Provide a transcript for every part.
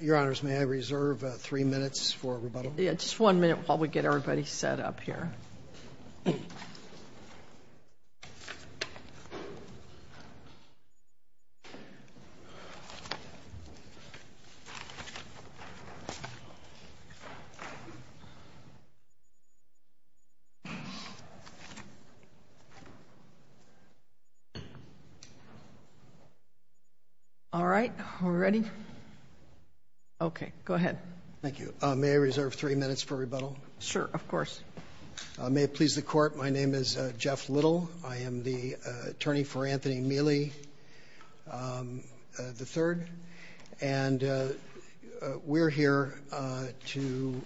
Your Honors, may I reserve three minutes for rebuttal? Yeah, just one minute while we get everybody set up here. All right, we're ready? Okay, go ahead. Thank you. May I reserve three minutes for rebuttal? Sure, of course. May it please the Court, my name is Jeff Little. I am the attorney for Anthony Miele, III. And we're here to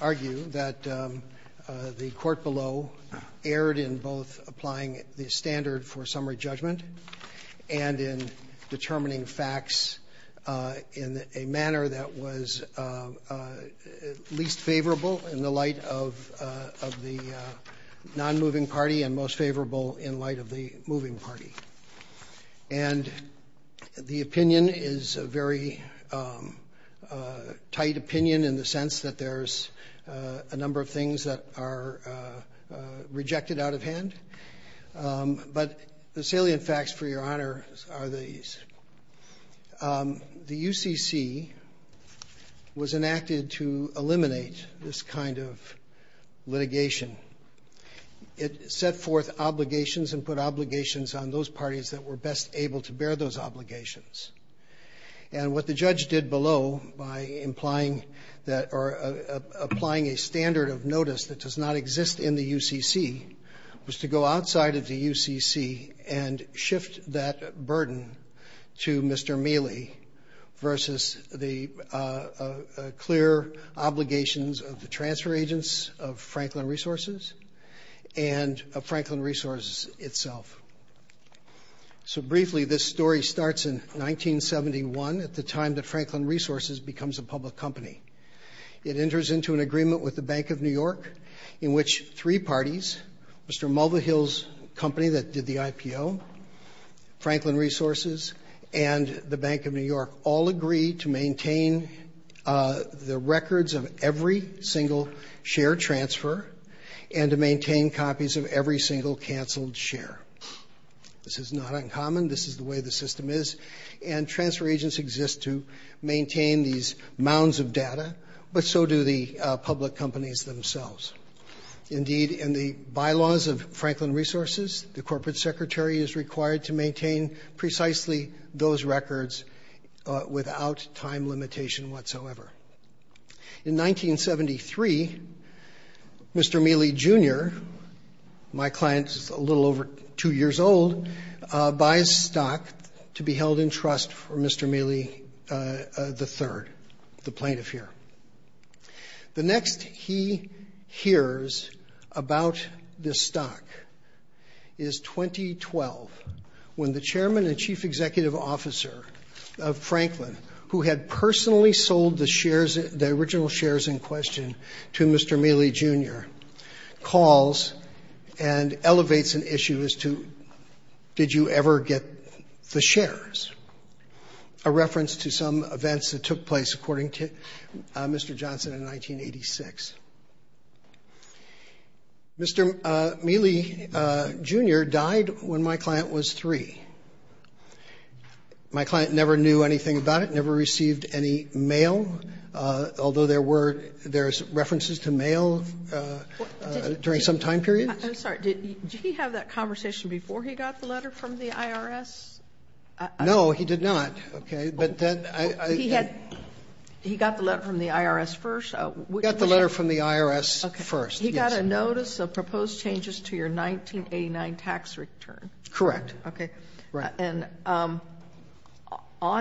argue that the Court below erred in both applying the standard for summary judgment and in determining facts in a manner that was least favorable in the light of the non-moving party and most favorable in light of the moving party. And the opinion is a very tight opinion in the sense that there's a number of things that are rejected out of hand. But the salient facts, for your honor, are these. The UCC was enacted to eliminate this kind of litigation. It set forth obligations and put obligations on those parties that were best able to bear those obligations. And what the judge did below by applying a standard of notice that does not exist in the UCC was to go outside of the UCC and shift that burden to Mr. Miele versus the clear obligations of the transfer agents of Franklin Resources and of Franklin Resources itself. So briefly, this story starts in 1971 at the time that Franklin Resources becomes a public company. It enters into an agreement with the Bank of New York in which three parties, Mr. Mulvihill's company that did the IPO, Franklin Resources, and the Bank of New York, all agree to maintain the records of every single share transfer and to maintain copies of every single canceled share. This is not uncommon. This is the way the system is. And transfer agents exist to maintain these mounds of data, but so do the public companies themselves. Indeed, in the bylaws of Franklin Resources, the corporate secretary is required to maintain precisely those records without time limitation whatsoever. In 1973, Mr. Miele Jr., my client is a little over two years old, buys stock to be held in trust for Mr. Miele III, the plaintiff here. The next he hears about this stock is 2012, when the chairman and chief executive officer of Franklin, who had personally sold the original shares in question to Mr. Miele Jr., calls and elevates an issue as to did you ever get the shares, a reference to some events that took place according to Mr. Johnson in 1986. Mr. Miele Jr. died when my client was three. My client never knew anything about it, never received any mail, although there were references to mail during some time period. I'm sorry. Did he have that conversation before he got the letter from the IRS? No, he did not. Okay. He got the letter from the IRS first. He got a notice of proposed changes to your 1989 tax return. Correct. Okay. Right. And on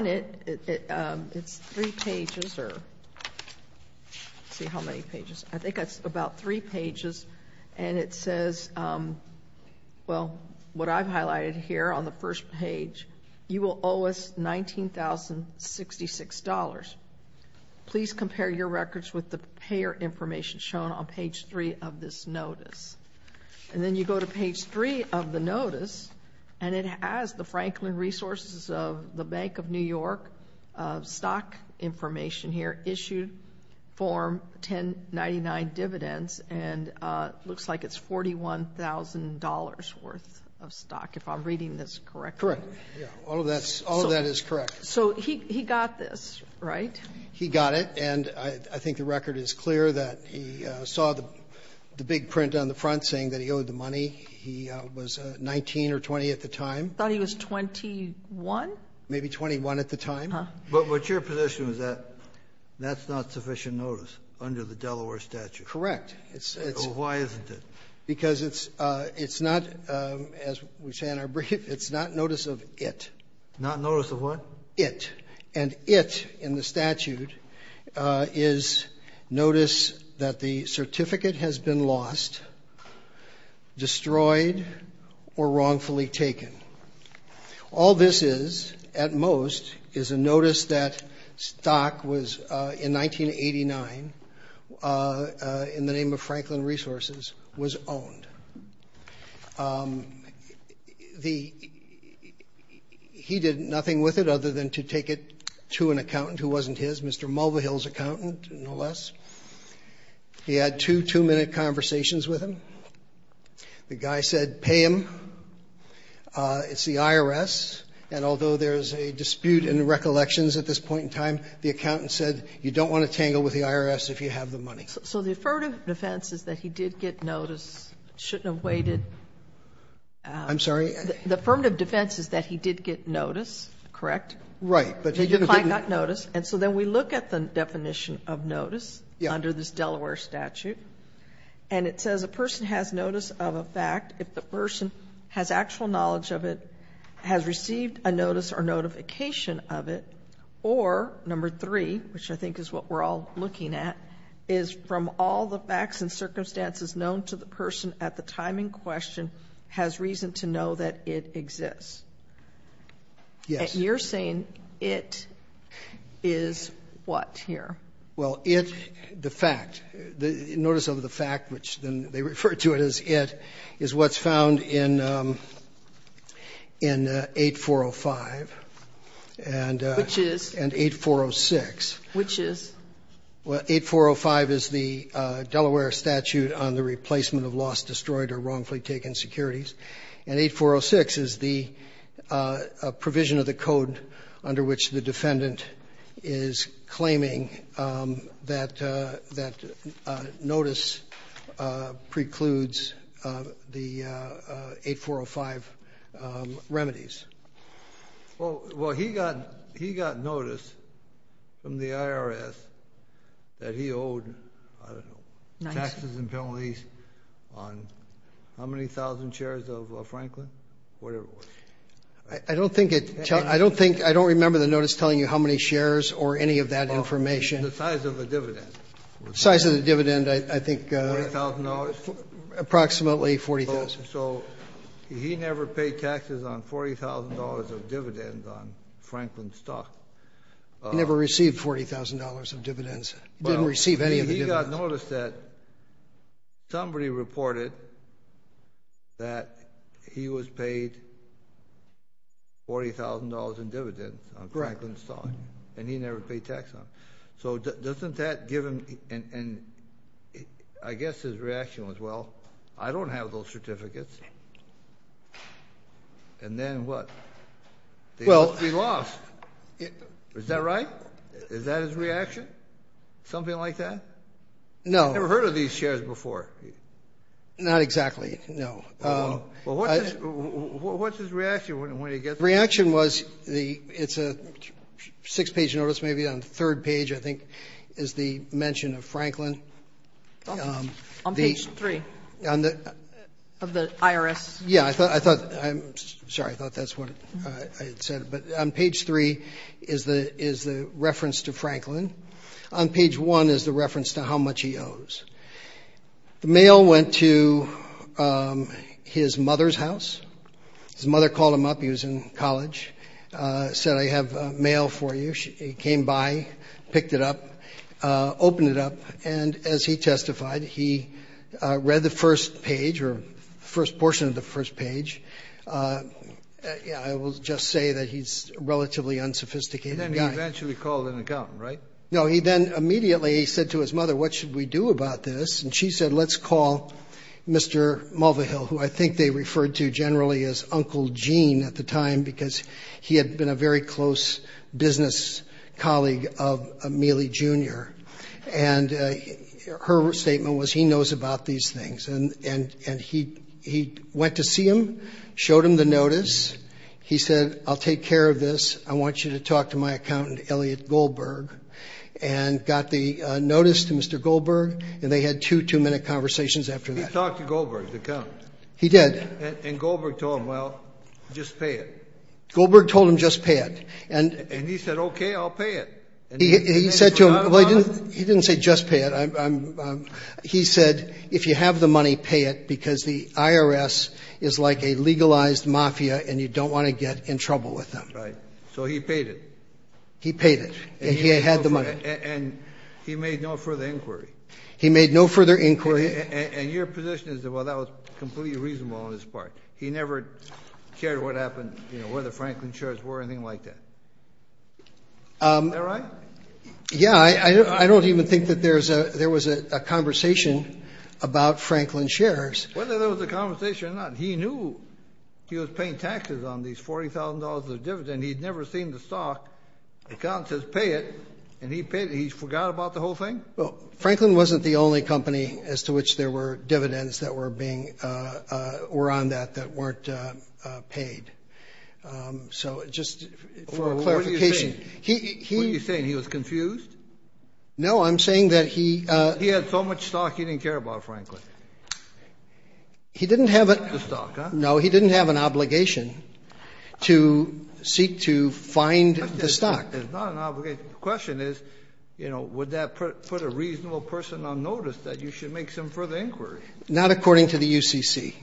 it, it's three pages, or let's see how many pages. I think that's about three pages, and it says, well, what I've highlighted here on the first page, you will owe us $19,066. Please compare your records with the payer information shown on page three of this notice. And then you go to page three of the notice, and it has the Franklin Resources of the Bank of New York stock information here, issued form 1099 dividends, and it looks like it's $41,000 worth of stock, if I'm reading this correctly. Correct. All of that is correct. So he got this, right? He got it. And I think the record is clear that he saw the big print on the front saying that he owed the money. He was 19 or 20 at the time. I thought he was 21. Maybe 21 at the time. But what's your position is that that's not sufficient notice under the Delaware statute? Correct. Why isn't it? Because it's not, as we say in our brief, it's not notice of it. Not notice of what? It. And it, in the statute, is notice that the certificate has been lost, destroyed, or wrongfully taken. All this is, at most, is a notice that stock was, in 1989, in the name of Franklin Resources, was owned. He did nothing with it other than to take it to an accountant who wasn't his, Mr. Mulvihill's accountant, no less. He had two two-minute conversations with him. The guy said, pay him. It's the IRS. And although there's a dispute and recollections at this point in time, the accountant said, you don't want to tangle with the IRS if you have the money. So the affirmative defense is that he did get notice, shouldn't have waited. I'm sorry? The affirmative defense is that he did get notice, correct? Right. But he didn't get notice. And so then we look at the definition of notice under this Delaware statute, and it says a person has notice of a fact if the person has actual knowledge of it, has received a notice or notification of it, or number three, which I think is what we're all looking at, is from all the facts and circumstances known to the person at the time in question has reason to know that it exists. Yes. And you're saying it is what here? Well, it, the fact, notice of the fact, which then they refer to it as it, is what's found in 8405 and 8406. Which is? Well, 8405 is the Delaware statute on the replacement of lost, destroyed, or wrongfully taken securities. And 8406 is the provision of the code under which the defendant is claiming that notice precludes the 8405 remedies. Well, he got notice from the IRS that he owed, I don't know, taxes and penalties on how many thousand shares of Franklin, whatever it was. I don't think it, I don't think, I don't remember the notice telling you how many shares or any of that information. The size of the dividend. Size of the dividend, I think. $40,000. Approximately $40,000. So he never paid taxes on $40,000 of dividends on Franklin's stock. He never received $40,000 of dividends. He didn't receive any of the dividends. He got notice that somebody reported that he was paid $40,000 in dividends. Correct. On Franklin's stock. And he never paid tax on it. So doesn't that give him, and I guess his reaction was, well, I don't have those certificates. And then what? They must be lost. Is that right? Is that his reaction? Something like that? No. I've never heard of these shares before. Not exactly, no. Well, what's his reaction when he gets them? The reaction was, it's a six-page notice, maybe on the third page, I think, is the mention of Franklin. On page three of the IRS? Yeah. I'm sorry. I thought that's what I had said. But on page three is the reference to Franklin. On page one is the reference to how much he owes. The mail went to his mother's house. His mother called him up. He was in college. Said, I have mail for you. He came by, picked it up, opened it up, and as he testified, he read the first page or the first portion of the first page. I will just say that he's a relatively unsophisticated guy. And then he eventually called an accountant, right? No. He then immediately said to his mother, what should we do about this? And she said, let's call Mr. Mulvihill, who I think they referred to generally as Uncle Gene at the time because he had been a very close business colleague of Mealy Jr. And her statement was, he knows about these things. And he went to see him, showed him the notice. He said, I'll take care of this. I want you to talk to my accountant, Elliot Goldberg, and got the notice to Mr. Goldberg, and they had two two-minute conversations after that. He talked to Goldberg, the accountant? He did. And Goldberg told him, well, just pay it? Goldberg told him, just pay it. And he said, okay, I'll pay it. He said to him, well, he didn't say just pay it. He said, if you have the money, pay it, because the IRS is like a legalized mafia and you don't want to get in trouble with them. Right. So he paid it. He paid it. And he had the money. And he made no further inquiry. He made no further inquiry. And your position is, well, that was completely reasonable on his part. He never cared what happened, you know, whether Franklin shares were or anything like that. Is that right? Yeah. I don't even think that there was a conversation about Franklin shares. Whether there was a conversation or not, he knew he was paying taxes on these $40,000 of dividends. He had never seen the stock. The accountant says, pay it. And he paid it. He forgot about the whole thing? Well, Franklin wasn't the only company as to which there were dividends that were on that that weren't paid. So just for clarification. What are you saying? He was confused? No, I'm saying that he. He had so much stock he didn't care about Franklin. He didn't have. The stock, huh? No, he didn't have an obligation to seek to find the stock. It's not an obligation. The question is, you know, would that put a reasonable person on notice that you should make some further inquiry? Not according to the UCC.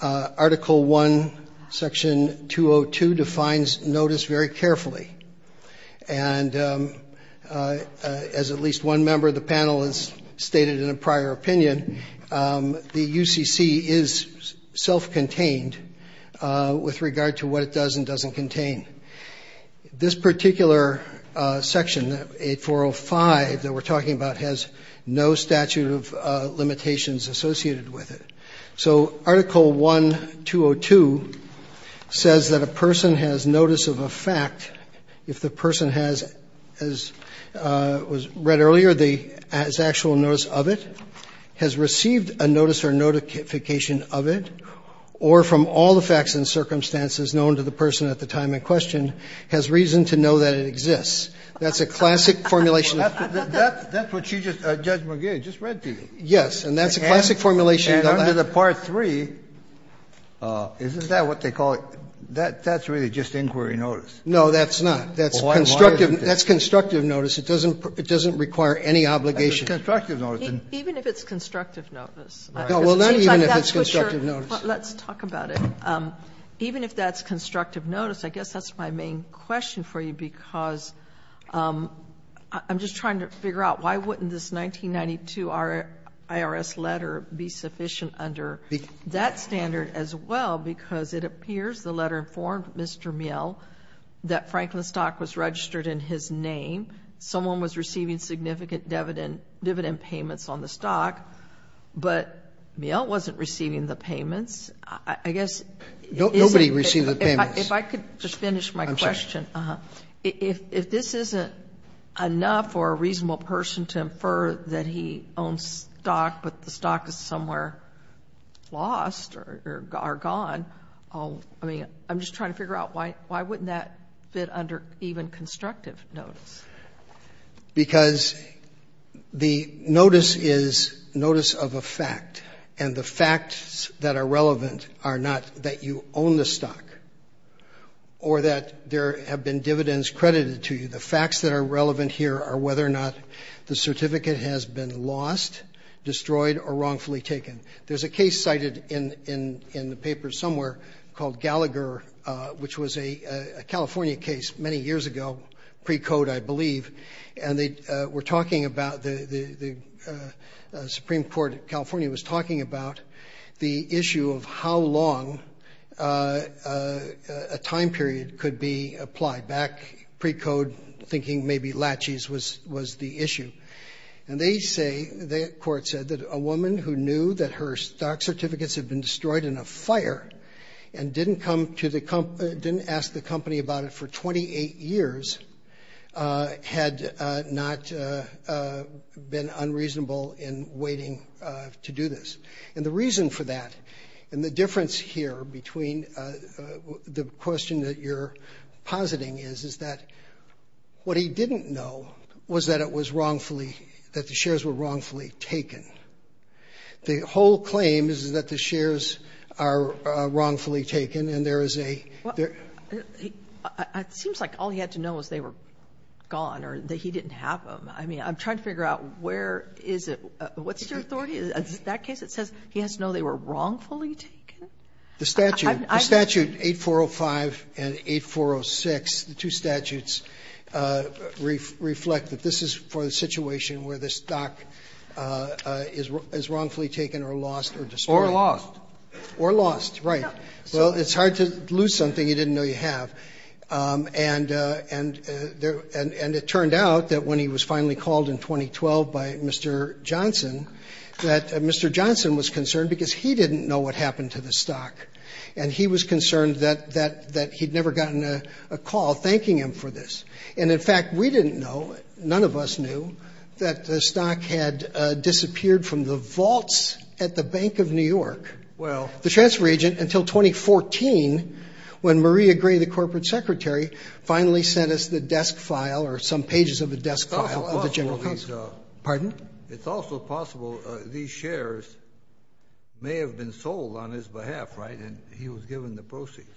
Article 1, Section 202 defines notice very carefully. And as at least one member of the panel has stated in a prior opinion, the UCC is self-contained with regard to what it does and doesn't contain. This particular section, 8405, that we're talking about, has no statute of limitations associated with it. So Article 1202 says that a person has notice of a fact if the person has, as was read earlier, has actual notice of it, has received a notice or notification of it, or from all the facts and circumstances known to the person at the time in question has reason to know that it exists. That's a classic formulation. That's what she just, Judge McGill, just read to you. Yes. And that's a classic formulation. And under the Part 3, isn't that what they call it? That's really just inquiry notice. No, that's not. That's constructive. That's constructive notice. It doesn't require any obligation. Even if it's constructive notice. Well, then even if it's constructive notice. Let's talk about it. Even if that's constructive notice, I guess that's my main question for you, because I'm just trying to figure out why wouldn't this 1992 IRS letter be sufficient under that standard as well, because it appears the letter informed Mr. Mill that Franklin's stock was registered in his name. Someone was receiving significant dividend payments on the stock. But Mill wasn't receiving the payments. I guess it isn't. Nobody received the payments. If I could just finish my question. I'm sorry. If this isn't enough for a reasonable person to infer that he owns stock, but the stock is somewhere lost or gone, I mean, I'm just trying to figure out why wouldn't that fit under even constructive notice? Because the notice is notice of a fact. And the facts that are relevant are not that you own the stock or that there have been dividends credited to you. The facts that are relevant here are whether or not the certificate has been lost, destroyed, or wrongfully taken. There's a case cited in the paper somewhere called Gallagher, which was a California case many years ago, pre-code, I believe. And they were talking about, the Supreme Court of California was talking about the issue of how long a time period could be applied, back pre-code, thinking maybe laches was the issue. And they say, the court said that a woman who knew that her stock certificates had been destroyed in a fire and didn't ask the company about it for 28 years had not been unreasonable in waiting to do this. And the reason for that and the difference here between the question that you're positing is that what he didn't know was that it was wrongfully, that the shares were wrongfully taken. The whole claim is that the shares are wrongfully taken and there is a ‑‑ It seems like all he had to know was they were gone or that he didn't have them. I mean, I'm trying to figure out where is it ‑‑ what's your authority? Is it that case that says he has to know they were wrongfully taken? The statute, 8405 and 8406, the two statutes reflect that this is for the situation where the stock is wrongfully taken or lost or destroyed. Or lost. Or lost, right. So it's hard to lose something you didn't know you have. And it turned out that when he was finally called in 2012 by Mr. Johnson, that Mr. Johnson was concerned because he didn't know what happened to the stock. And he was concerned that he had never gotten a call thanking him for this. And, in fact, we didn't know, none of us knew, that the stock had disappeared from the vaults at the Bank of New York, the transfer agent, until 2014, when Maria Gray, the corporate secretary, finally sent us the desk file or some pages of the desk file of the General Counsel. Pardon? It's also possible these shares may have been sold on his behalf, right, and he was given the proceeds.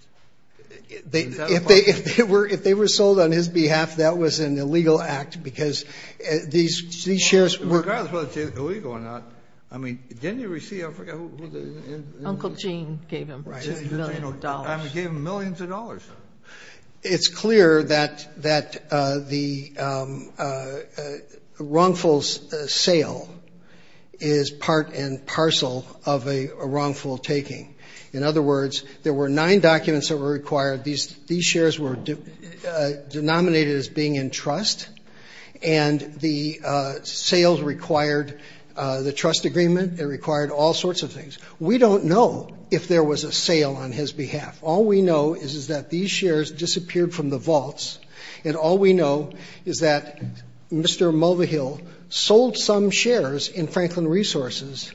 Is that a possibility? If they were sold on his behalf, that was an illegal act because these shares were Regardless of whether it's illegal or not, I mean, didn't he receive, I forget, Uncle Gene gave him millions of dollars. I mean, he gave him millions of dollars. It's clear that the wrongful sale is part and parcel of a wrongful taking. In other words, there were nine documents that were required. These shares were denominated as being in trust. And the sales required the trust agreement. It required all sorts of things. We don't know if there was a sale on his behalf. All we know is that these shares disappeared from the vaults. And all we know is that Mr. Mulvihill sold some shares in Franklin Resources.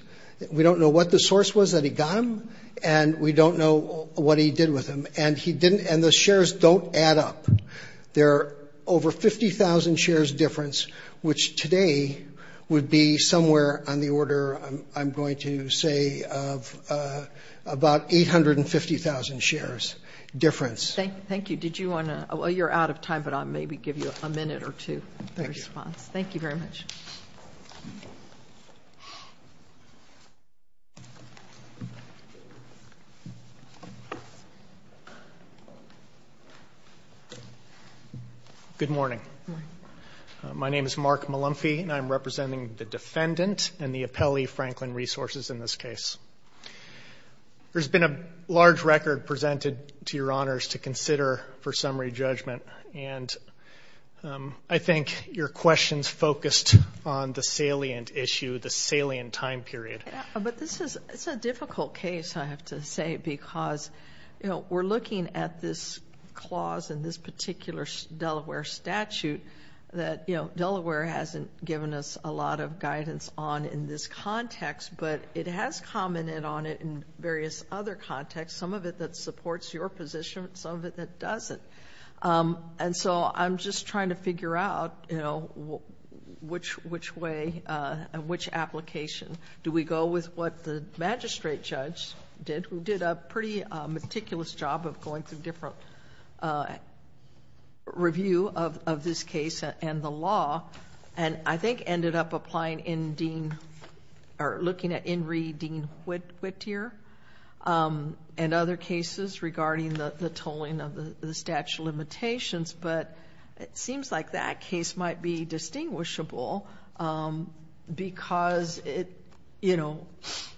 We don't know what the source was that he got them. And we don't know what he did with them. And the shares don't add up. They're over 50,000 shares difference, which today would be somewhere on the order, I'm going to say, of about 850,000 shares difference. Thank you. Did you want to – well, you're out of time, but I'll maybe give you a minute or two. Thank you. Thank you very much. Good morning. My name is Mark Mulumphy, and I'm representing the defendant and the appellee, Franklin Resources, in this case. There's been a large record presented to your honors to consider for summary judgment. And I think your questions focused on the salient issue, the salient time period. But this is a difficult case, I have to say, because we're looking at this clause in this particular Delaware statute that, you know, Delaware hasn't given us a lot of guidance on in this context, but it has commented on it in various other contexts, some of it that supports your position, some of it that doesn't. And so I'm just trying to figure out, you know, which way and which application. Do we go with what the magistrate judge did, who did a pretty meticulous job of going through different review of this case and the law, and I think ended up applying in Dean or looking at in re Dean Whittier and other cases regarding the tolling of the statute of limitations. But it seems like that case might be distinguishable because it, you know,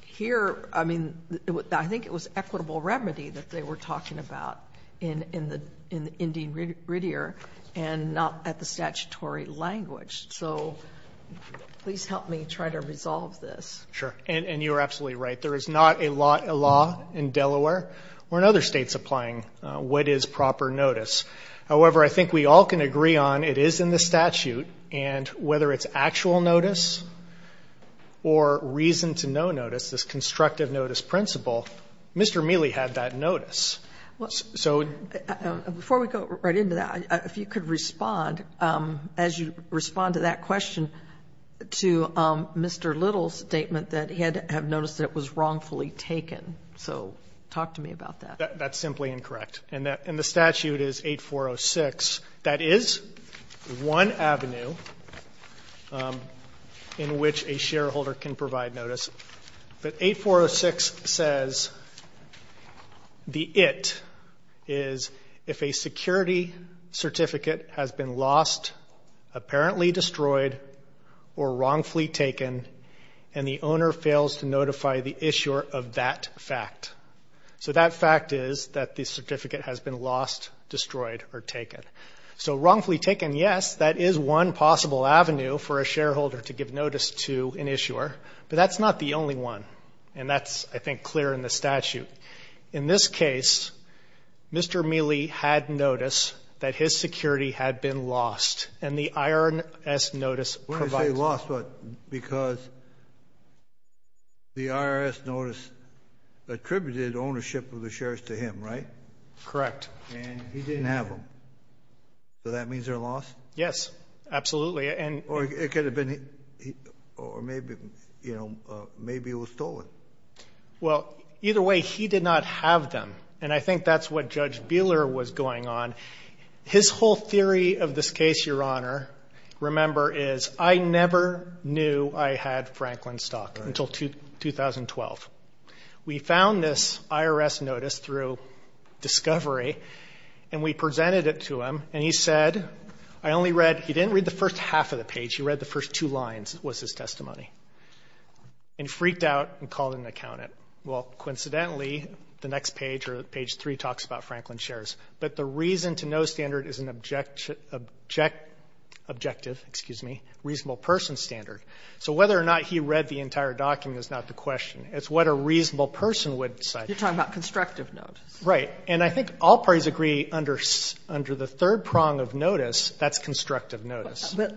here, I mean, I think it was equitable remedy that they were talking about in Dean Whittier and not at the statutory language. So please help me try to resolve this. Sure. And you're absolutely right. There is not a law in Delaware or in other states applying what is proper notice. However, I think we all can agree on it is in the statute, and whether it's actual notice or reason to no notice, this constructive notice principle, Mr. Mealy had that notice. Before we go right into that, if you could respond, as you respond to that question, to Mr. Little's statement that he had to have noticed it was wrongfully taken. So talk to me about that. That's simply incorrect. And the statute is 8406. That is one avenue in which a shareholder can provide notice. But 8406 says the it is if a security certificate has been lost, apparently destroyed, or wrongfully taken, and the owner fails to notify the issuer of that fact. So that fact is that the certificate has been lost, destroyed, or taken. So wrongfully taken, yes, that is one possible avenue for a shareholder to give notice to an issuer. But that's not the only one, and that's, I think, clear in the statute. In this case, Mr. Mealy had notice that his security had been lost, and the IRS notice provides it. We're going to say lost because the IRS notice attributed ownership of the shares to him, right? Correct. And he didn't have them. So that means they're lost? Yes, absolutely. Or it could have been, or maybe, you know, maybe it was stolen. Well, either way, he did not have them, and I think that's what Judge Buehler was going on. His whole theory of this case, Your Honor, remember, is I never knew I had Franklin stock until 2012. We found this IRS notice through discovery, and we presented it to him, and he said, I only read, he didn't read the first half of the page, he read the first two lines was his testimony. And he freaked out and called in an accountant. Well, coincidentally, the next page or page 3 talks about Franklin shares. But the reason to know standard is an objective, excuse me, reasonable person standard. So whether or not he read the entire document is not the question. It's what a reasonable person would decide. You're talking about constructive notice. Right. And I think all parties agree under the third prong of notice, that's constructive notice. But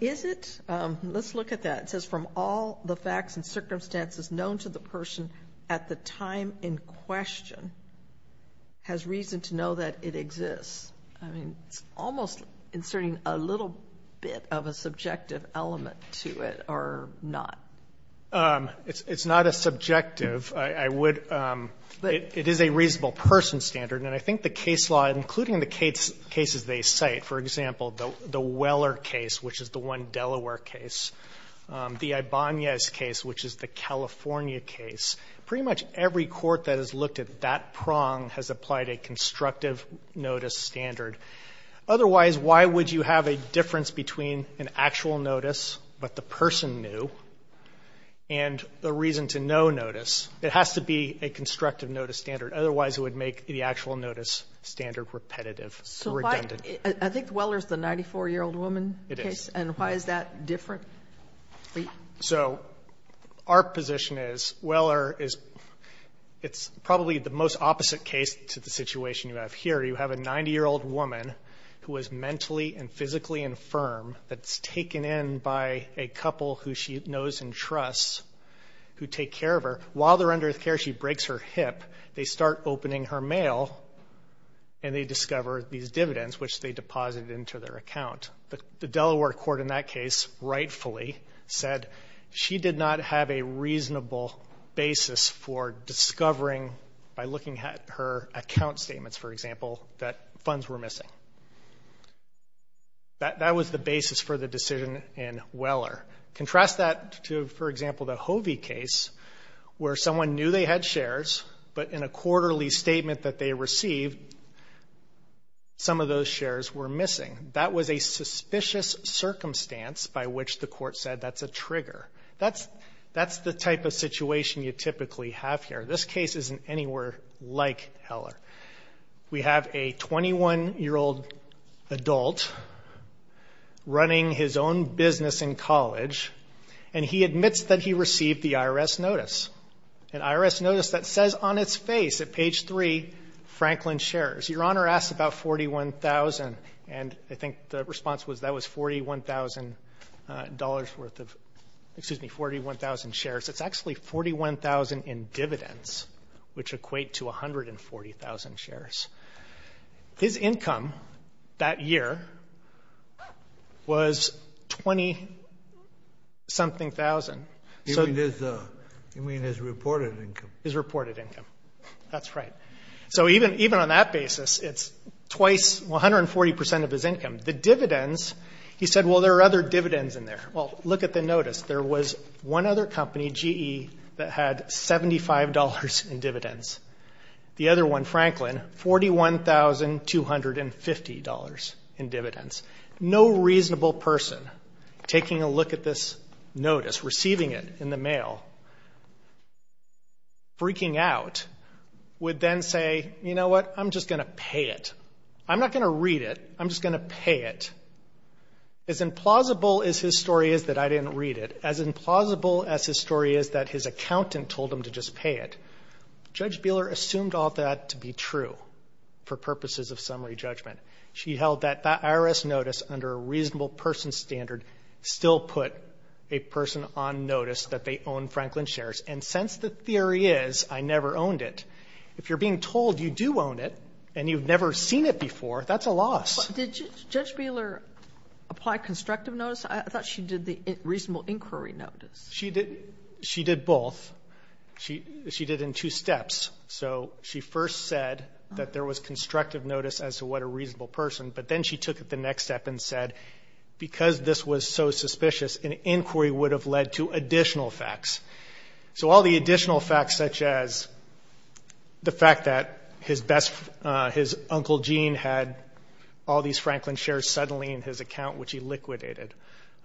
is it? Let's look at that. It says from all the facts and circumstances known to the person at the time in question has reason to know that it exists. I mean, it's almost inserting a little bit of a subjective element to it or not. It's not as subjective. It is a reasonable person standard. And I think the case law, including the cases they cite, for example, the Weller case, which is the one Delaware case, the Ibanez case, which is the California case, pretty much every court that has looked at that prong has applied a constructive notice standard. Otherwise, why would you have a difference between an actual notice, but the person knew, and a reason to know notice? It has to be a constructive notice standard. Otherwise, it would make the actual notice standard repetitive, redundant. So why do you think Weller is the 94-year-old woman case? It is. And why is that different? So our position is Weller is probably the most opposite case to the situation you have here. You have a 90-year-old woman who is mentally and physically infirm that's taken in by a couple who she knows and trusts who take care of her. While they're under care, she breaks her hip. They start opening her mail, and they discover these dividends, which they deposited into their account. The Delaware court in that case rightfully said she did not have a reasonable basis for discovering, by looking at her account statements, for example, that funds were missing. That was the basis for the decision in Weller. Contrast that to, for example, the Hovey case, where someone knew they had shares, but in a quarterly statement that they received, some of those shares were missing. That was a suspicious circumstance by which the court said that's a trigger. That's the type of situation you typically have here. This case isn't anywhere like Heller. We have a 21-year-old adult running his own business in college, and he admits that he received the IRS notice, an IRS notice that says on its face at page three, Franklin Shares. Your Honor asks about $41,000, and I think the response was that was $41,000 worth of shares. It's actually 41,000 in dividends, which equate to 140,000 shares. His income that year was 20-something thousand. You mean his reported income? His reported income. That's right. So even on that basis, it's twice, 140% of his income. The dividends, he said, well, there are other dividends in there. Well, look at the notice. There was one other company, GE, that had $75 in dividends. The other one, Franklin, $41,250 in dividends. No reasonable person taking a look at this notice, receiving it in the mail, freaking out, would then say, you know what? I'm just going to pay it. I'm not going to read it. I'm just going to pay it. As implausible as his story is that I didn't read it, as implausible as his story is that his accountant told him to just pay it, Judge Buehler assumed all that to be true for purposes of summary judgment. She held that the IRS notice under a reasonable person standard still put a person on notice that they own Franklin Shares. And since the theory is I never owned it, if you're being told you do own it and you've never seen it before, that's a loss. But did Judge Buehler apply constructive notice? I thought she did the reasonable inquiry notice. She did both. She did in two steps. So she first said that there was constructive notice as to what a reasonable person, but then she took it the next step and said, because this was so suspicious, an inquiry would have led to additional facts. So all the additional facts, such as the fact that his uncle Gene had all these Franklin Shares suddenly in his account, which he liquidated,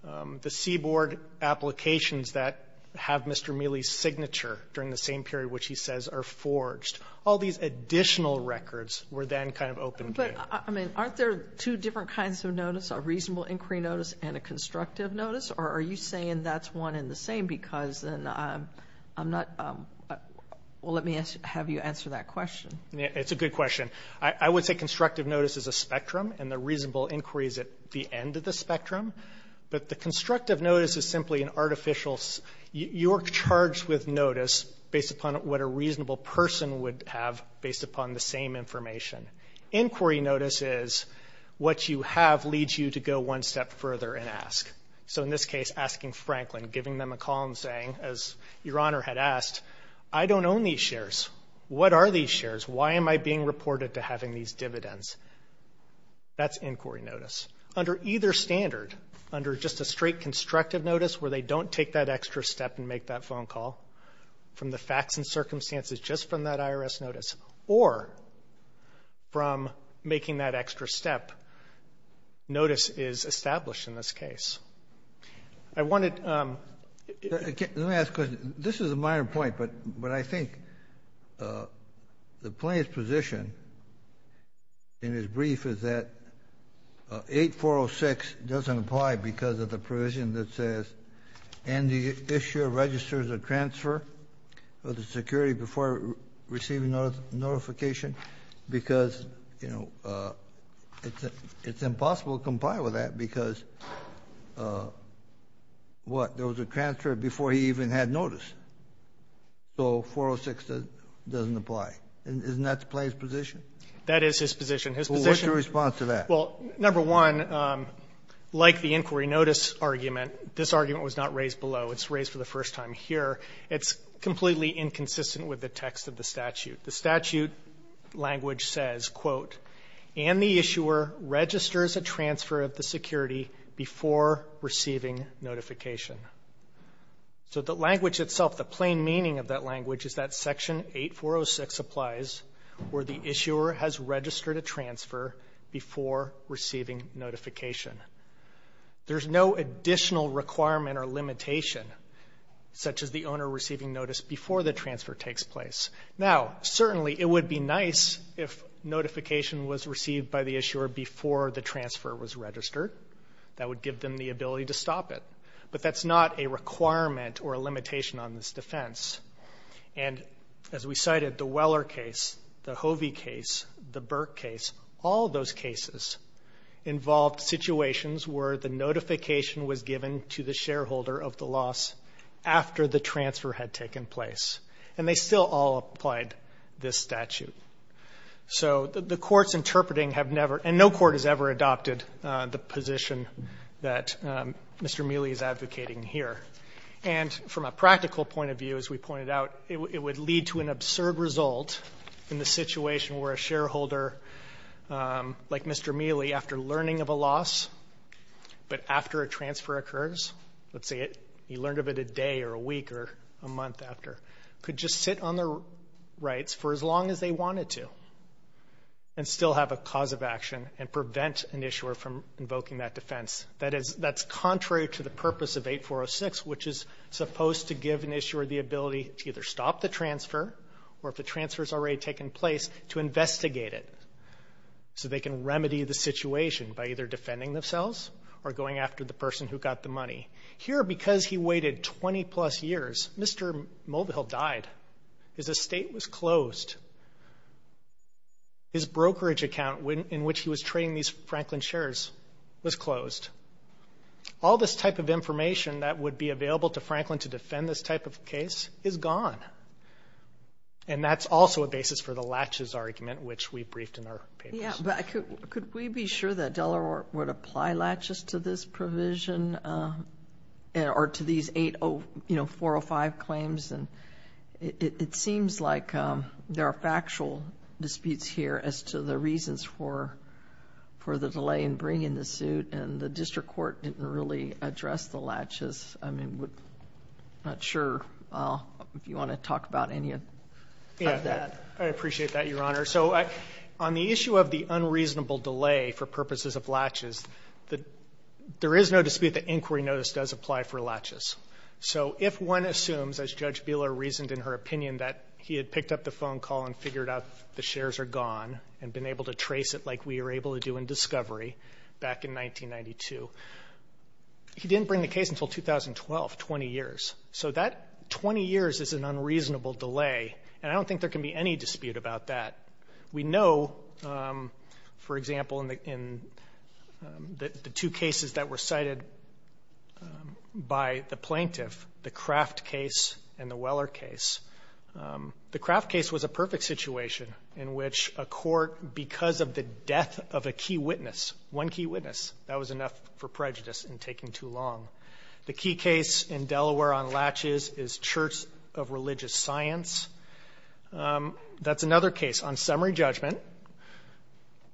the C-Board applications that have Mr. Mealy's signature during the same period, which he says are forged, all these additional records were then kind of opened up. But, I mean, aren't there two different kinds of notice, a reasonable inquiry notice and a constructive notice? Or are you saying that's one and the same because then I'm not – well, let me have you answer that question. It's a good question. I would say constructive notice is a spectrum, and the reasonable inquiry is at the end of the spectrum. But the constructive notice is simply an artificial – you're charged with notice based upon what a reasonable person would have based upon the same information. Inquiry notice is what you have leads you to go one step further and ask. So in this case, asking Franklin, giving them a call and saying, as Your Honor had asked, I don't own these shares. What are these shares? Why am I being reported to having these dividends? That's inquiry notice. Under either standard, under just a straight constructive notice where they don't take that extra step and make that phone call from the facts and is established in this case. I wanted to – Let me ask a question. This is a minor point, but I think the plaintiff's position in his brief is that 8406 doesn't apply because of the provision that says, and the issuer registers a transfer of the security before receiving notification, because, you know, it's impossible to comply with that because, what, there was a transfer before he even had notice. So 406 doesn't apply. Isn't that the plaintiff's position? That is his position. What's your response to that? Well, number one, like the inquiry notice argument, this argument was not raised below. It's raised for the first time here. It's completely inconsistent with the text of the statute. The statute language says, quote, and the issuer registers a transfer of the security before receiving notification. So the language itself, the plain meaning of that language is that section 8406 applies where the issuer has registered a transfer before receiving notification. There's no additional requirement or limitation, such as the owner receiving notice before the transfer takes place. Now, certainly it would be nice if notification was received by the issuer before the transfer was registered. That would give them the ability to stop it. But that's not a requirement or a limitation on this defense. And as we cited, the Weller case, the Hovey case, the Burke case, all those cases involved situations where the notification was given to the shareholder of the loss after the transfer had taken place. And they still all applied this statute. So the court's interpreting have never, and no court has ever adopted the position that Mr. Mealy is advocating here. And from a practical point of view, as we pointed out, it would lead to an absurd result in the situation where a shareholder, like Mr. Mealy, after learning of a loss, but after a transfer occurs, let's say he learned of it a could just sit on their rights for as long as they wanted to and still have a cause of action and prevent an issuer from invoking that defense. That's contrary to the purpose of 8406, which is supposed to give an issuer the ability to either stop the transfer or, if the transfer's already taken place, to investigate it so they can remedy the situation by either defending themselves or going after the person who got the money. Here, because he waited 20-plus years, Mr. Mulvihill died. His estate was closed. His brokerage account in which he was trading these Franklin shares was closed. All this type of information that would be available to Franklin to defend this type of case is gone. And that's also a basis for the latches argument, which we briefed in our papers. Could we be sure that Delaware would apply latches to this provision or to these 80405 claims? It seems like there are factual disputes here as to the reasons for the delay in bringing the suit, and the district court didn't really address the latches. I'm not sure if you want to talk about any of that. I appreciate that, Your Honor. So on the issue of the unreasonable delay for purposes of latches, there is no dispute that inquiry notice does apply for latches. So if one assumes, as Judge Bieler reasoned in her opinion, that he had picked up the phone call and figured out the shares are gone and been able to trace it like we were able to do in discovery back in 1992, he didn't bring the case until 2012, 20 years. So that 20 years is an unreasonable delay, and I don't think there can be any dispute about that. We know, for example, in the two cases that were cited by the plaintiff, the Kraft case and the Weller case, the Kraft case was a perfect situation in which a court, because of the death of a key witness, one key witness, that was enough for prejudice in taking too long. The key case in Delaware on latches is Church of Religious Science. That's another case, on summary judgment,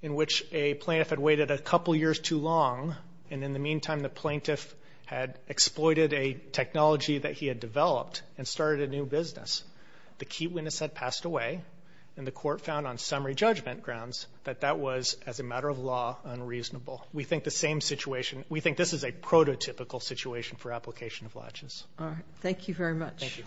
in which a plaintiff had waited a couple years too long, and in the meantime the plaintiff had exploited a technology that he had developed and started a new business. The key witness had passed away, and the court found on summary judgment grounds that that was, as a matter of law, unreasonable. We think the same situation, we think this is a prototypical situation for application of latches. All right. Thank you very much. Thank you.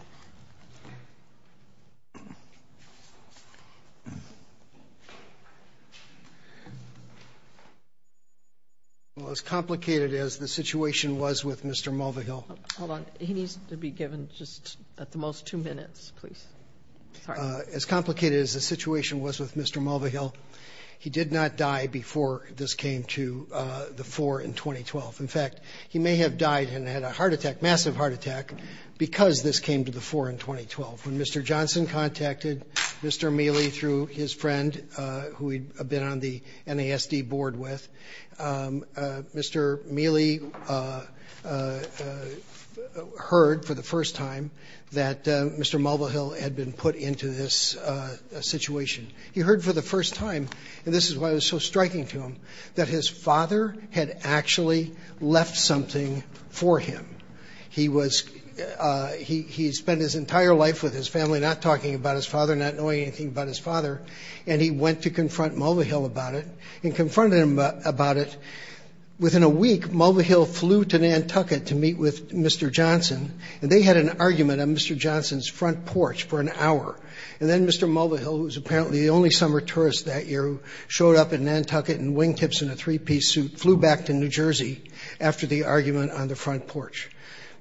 Well, as complicated as the situation was with Mr. Mulvihill. Hold on. He needs to be given just at the most two minutes, please. Sorry. As complicated as the situation was with Mr. Mulvihill, he did not die before this came to the floor in 2012. In fact, he may have died and had a heart attack, massive heart attack, because this came to the floor in 2012. When Mr. Johnson contacted Mr. Mealy through his friend, who he had been on the NASD board with, Mr. Mealy heard for the first time that Mr. Mulvihill had been put into this situation. He heard for the first time, and this is why it was so striking to him, that his father had actually left something for him. He spent his entire life with his family not talking about his father, not knowing anything about his father, and he went to confront Mulvihill about it and confronted him about it. Within a week, Mulvihill flew to Nantucket to meet with Mr. Johnson, and they had an argument on Mr. Johnson's front porch for an hour. And then Mr. Mulvihill, who was apparently the only summer tourist that year, who showed up in Nantucket in wingtips and a three-piece suit, flew back to New Jersey after the argument on the front porch.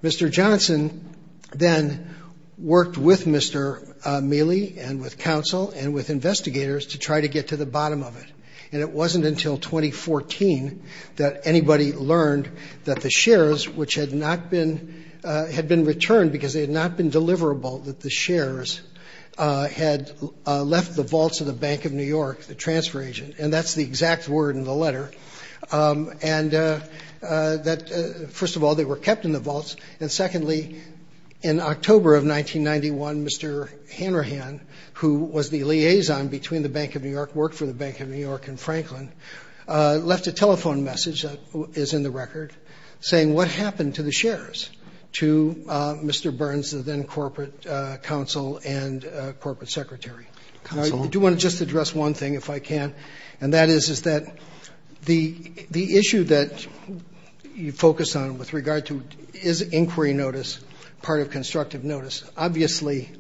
Mr. Johnson then worked with Mr. Mealy and with counsel and with investigators to try to get to the bottom of it, and it wasn't until 2014 that anybody learned that the shares, which had not been returned because they had not been deliverable, that the shares had left the vaults of the Bank of New York, the transfer agent. And that's the exact word in the letter. And first of all, they were kept in the vaults. And secondly, in October of 1991, Mr. Hanrahan, who was the liaison between the Bank of New York, worked for the Bank of New York and Franklin, left a telephone message that is in the record saying, what happened to the shares, to Mr. Burns, the then corporate counsel and corporate secretary. I do want to just address one thing, if I can, and that is that the issue that you focus on with regard to, is inquiry notice part of constructive notice? Obviously,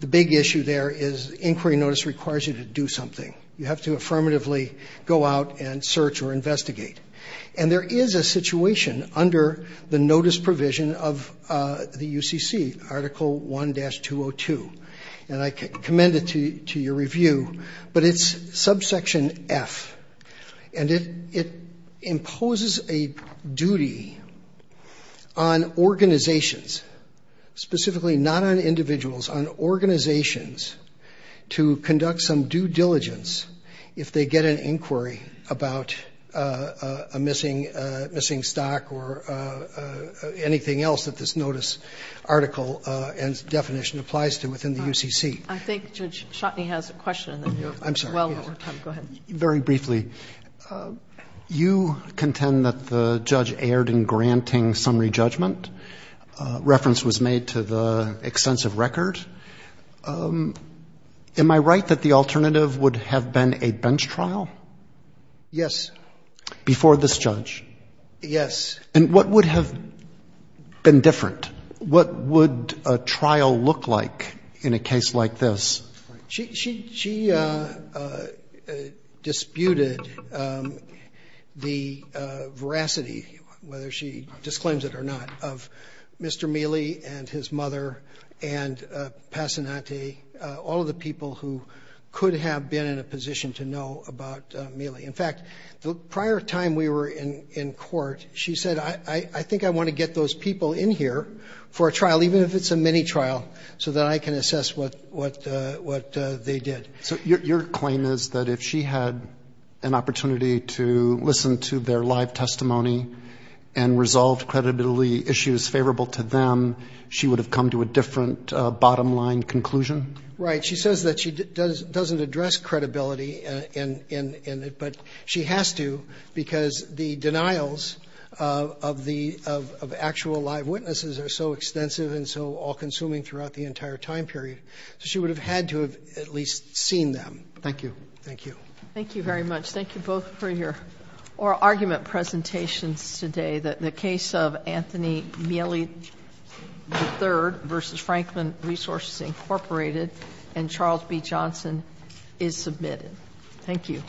the big issue there is inquiry notice requires you to do something. You have to affirmatively go out and search or investigate. And there is a situation under the notice provision of the UCC, Article 1-202. And I commend it to your review, but it's subsection F. And it imposes a duty on organizations, specifically not on individuals, on organizations, to conduct some due diligence if they get an inquiry about a missing stock or anything else that this notice article and definition applies to within the UCC. I think Judge Shotney has a question. I'm sorry. Very briefly, you contend that the judge erred in granting summary judgment. Reference was made to the extensive record. Am I right that the alternative would have been a bench trial? Yes. Before this judge? Yes. And what would have been different? What would a trial look like in a case like this? She disputed the veracity, whether she disclaims it or not, of Mr. Mealy and his mother and Passanante, all of the people who could have been in a position to know about Mealy. In fact, the prior time we were in court, she said, I think I want to get those people in here for a trial, even if it's a mini trial, so that I can assess what they did. So your claim is that if she had an opportunity to listen to their live testimony and resolved credibility issues favorable to them, she would have come to a different bottom line conclusion? Right. She says that she doesn't address credibility in it, but she has to because the denials of the actual live witnesses are so extensive and so all-consuming throughout the entire time period. So she would have had to have at least seen them. Thank you. Thank you. Thank you very much. Thank you both for your oral argument presentations today. The case of Anthony Mealy III v. Franklin Resources, Incorporated and Charles B. Johnson is submitted. Thank you.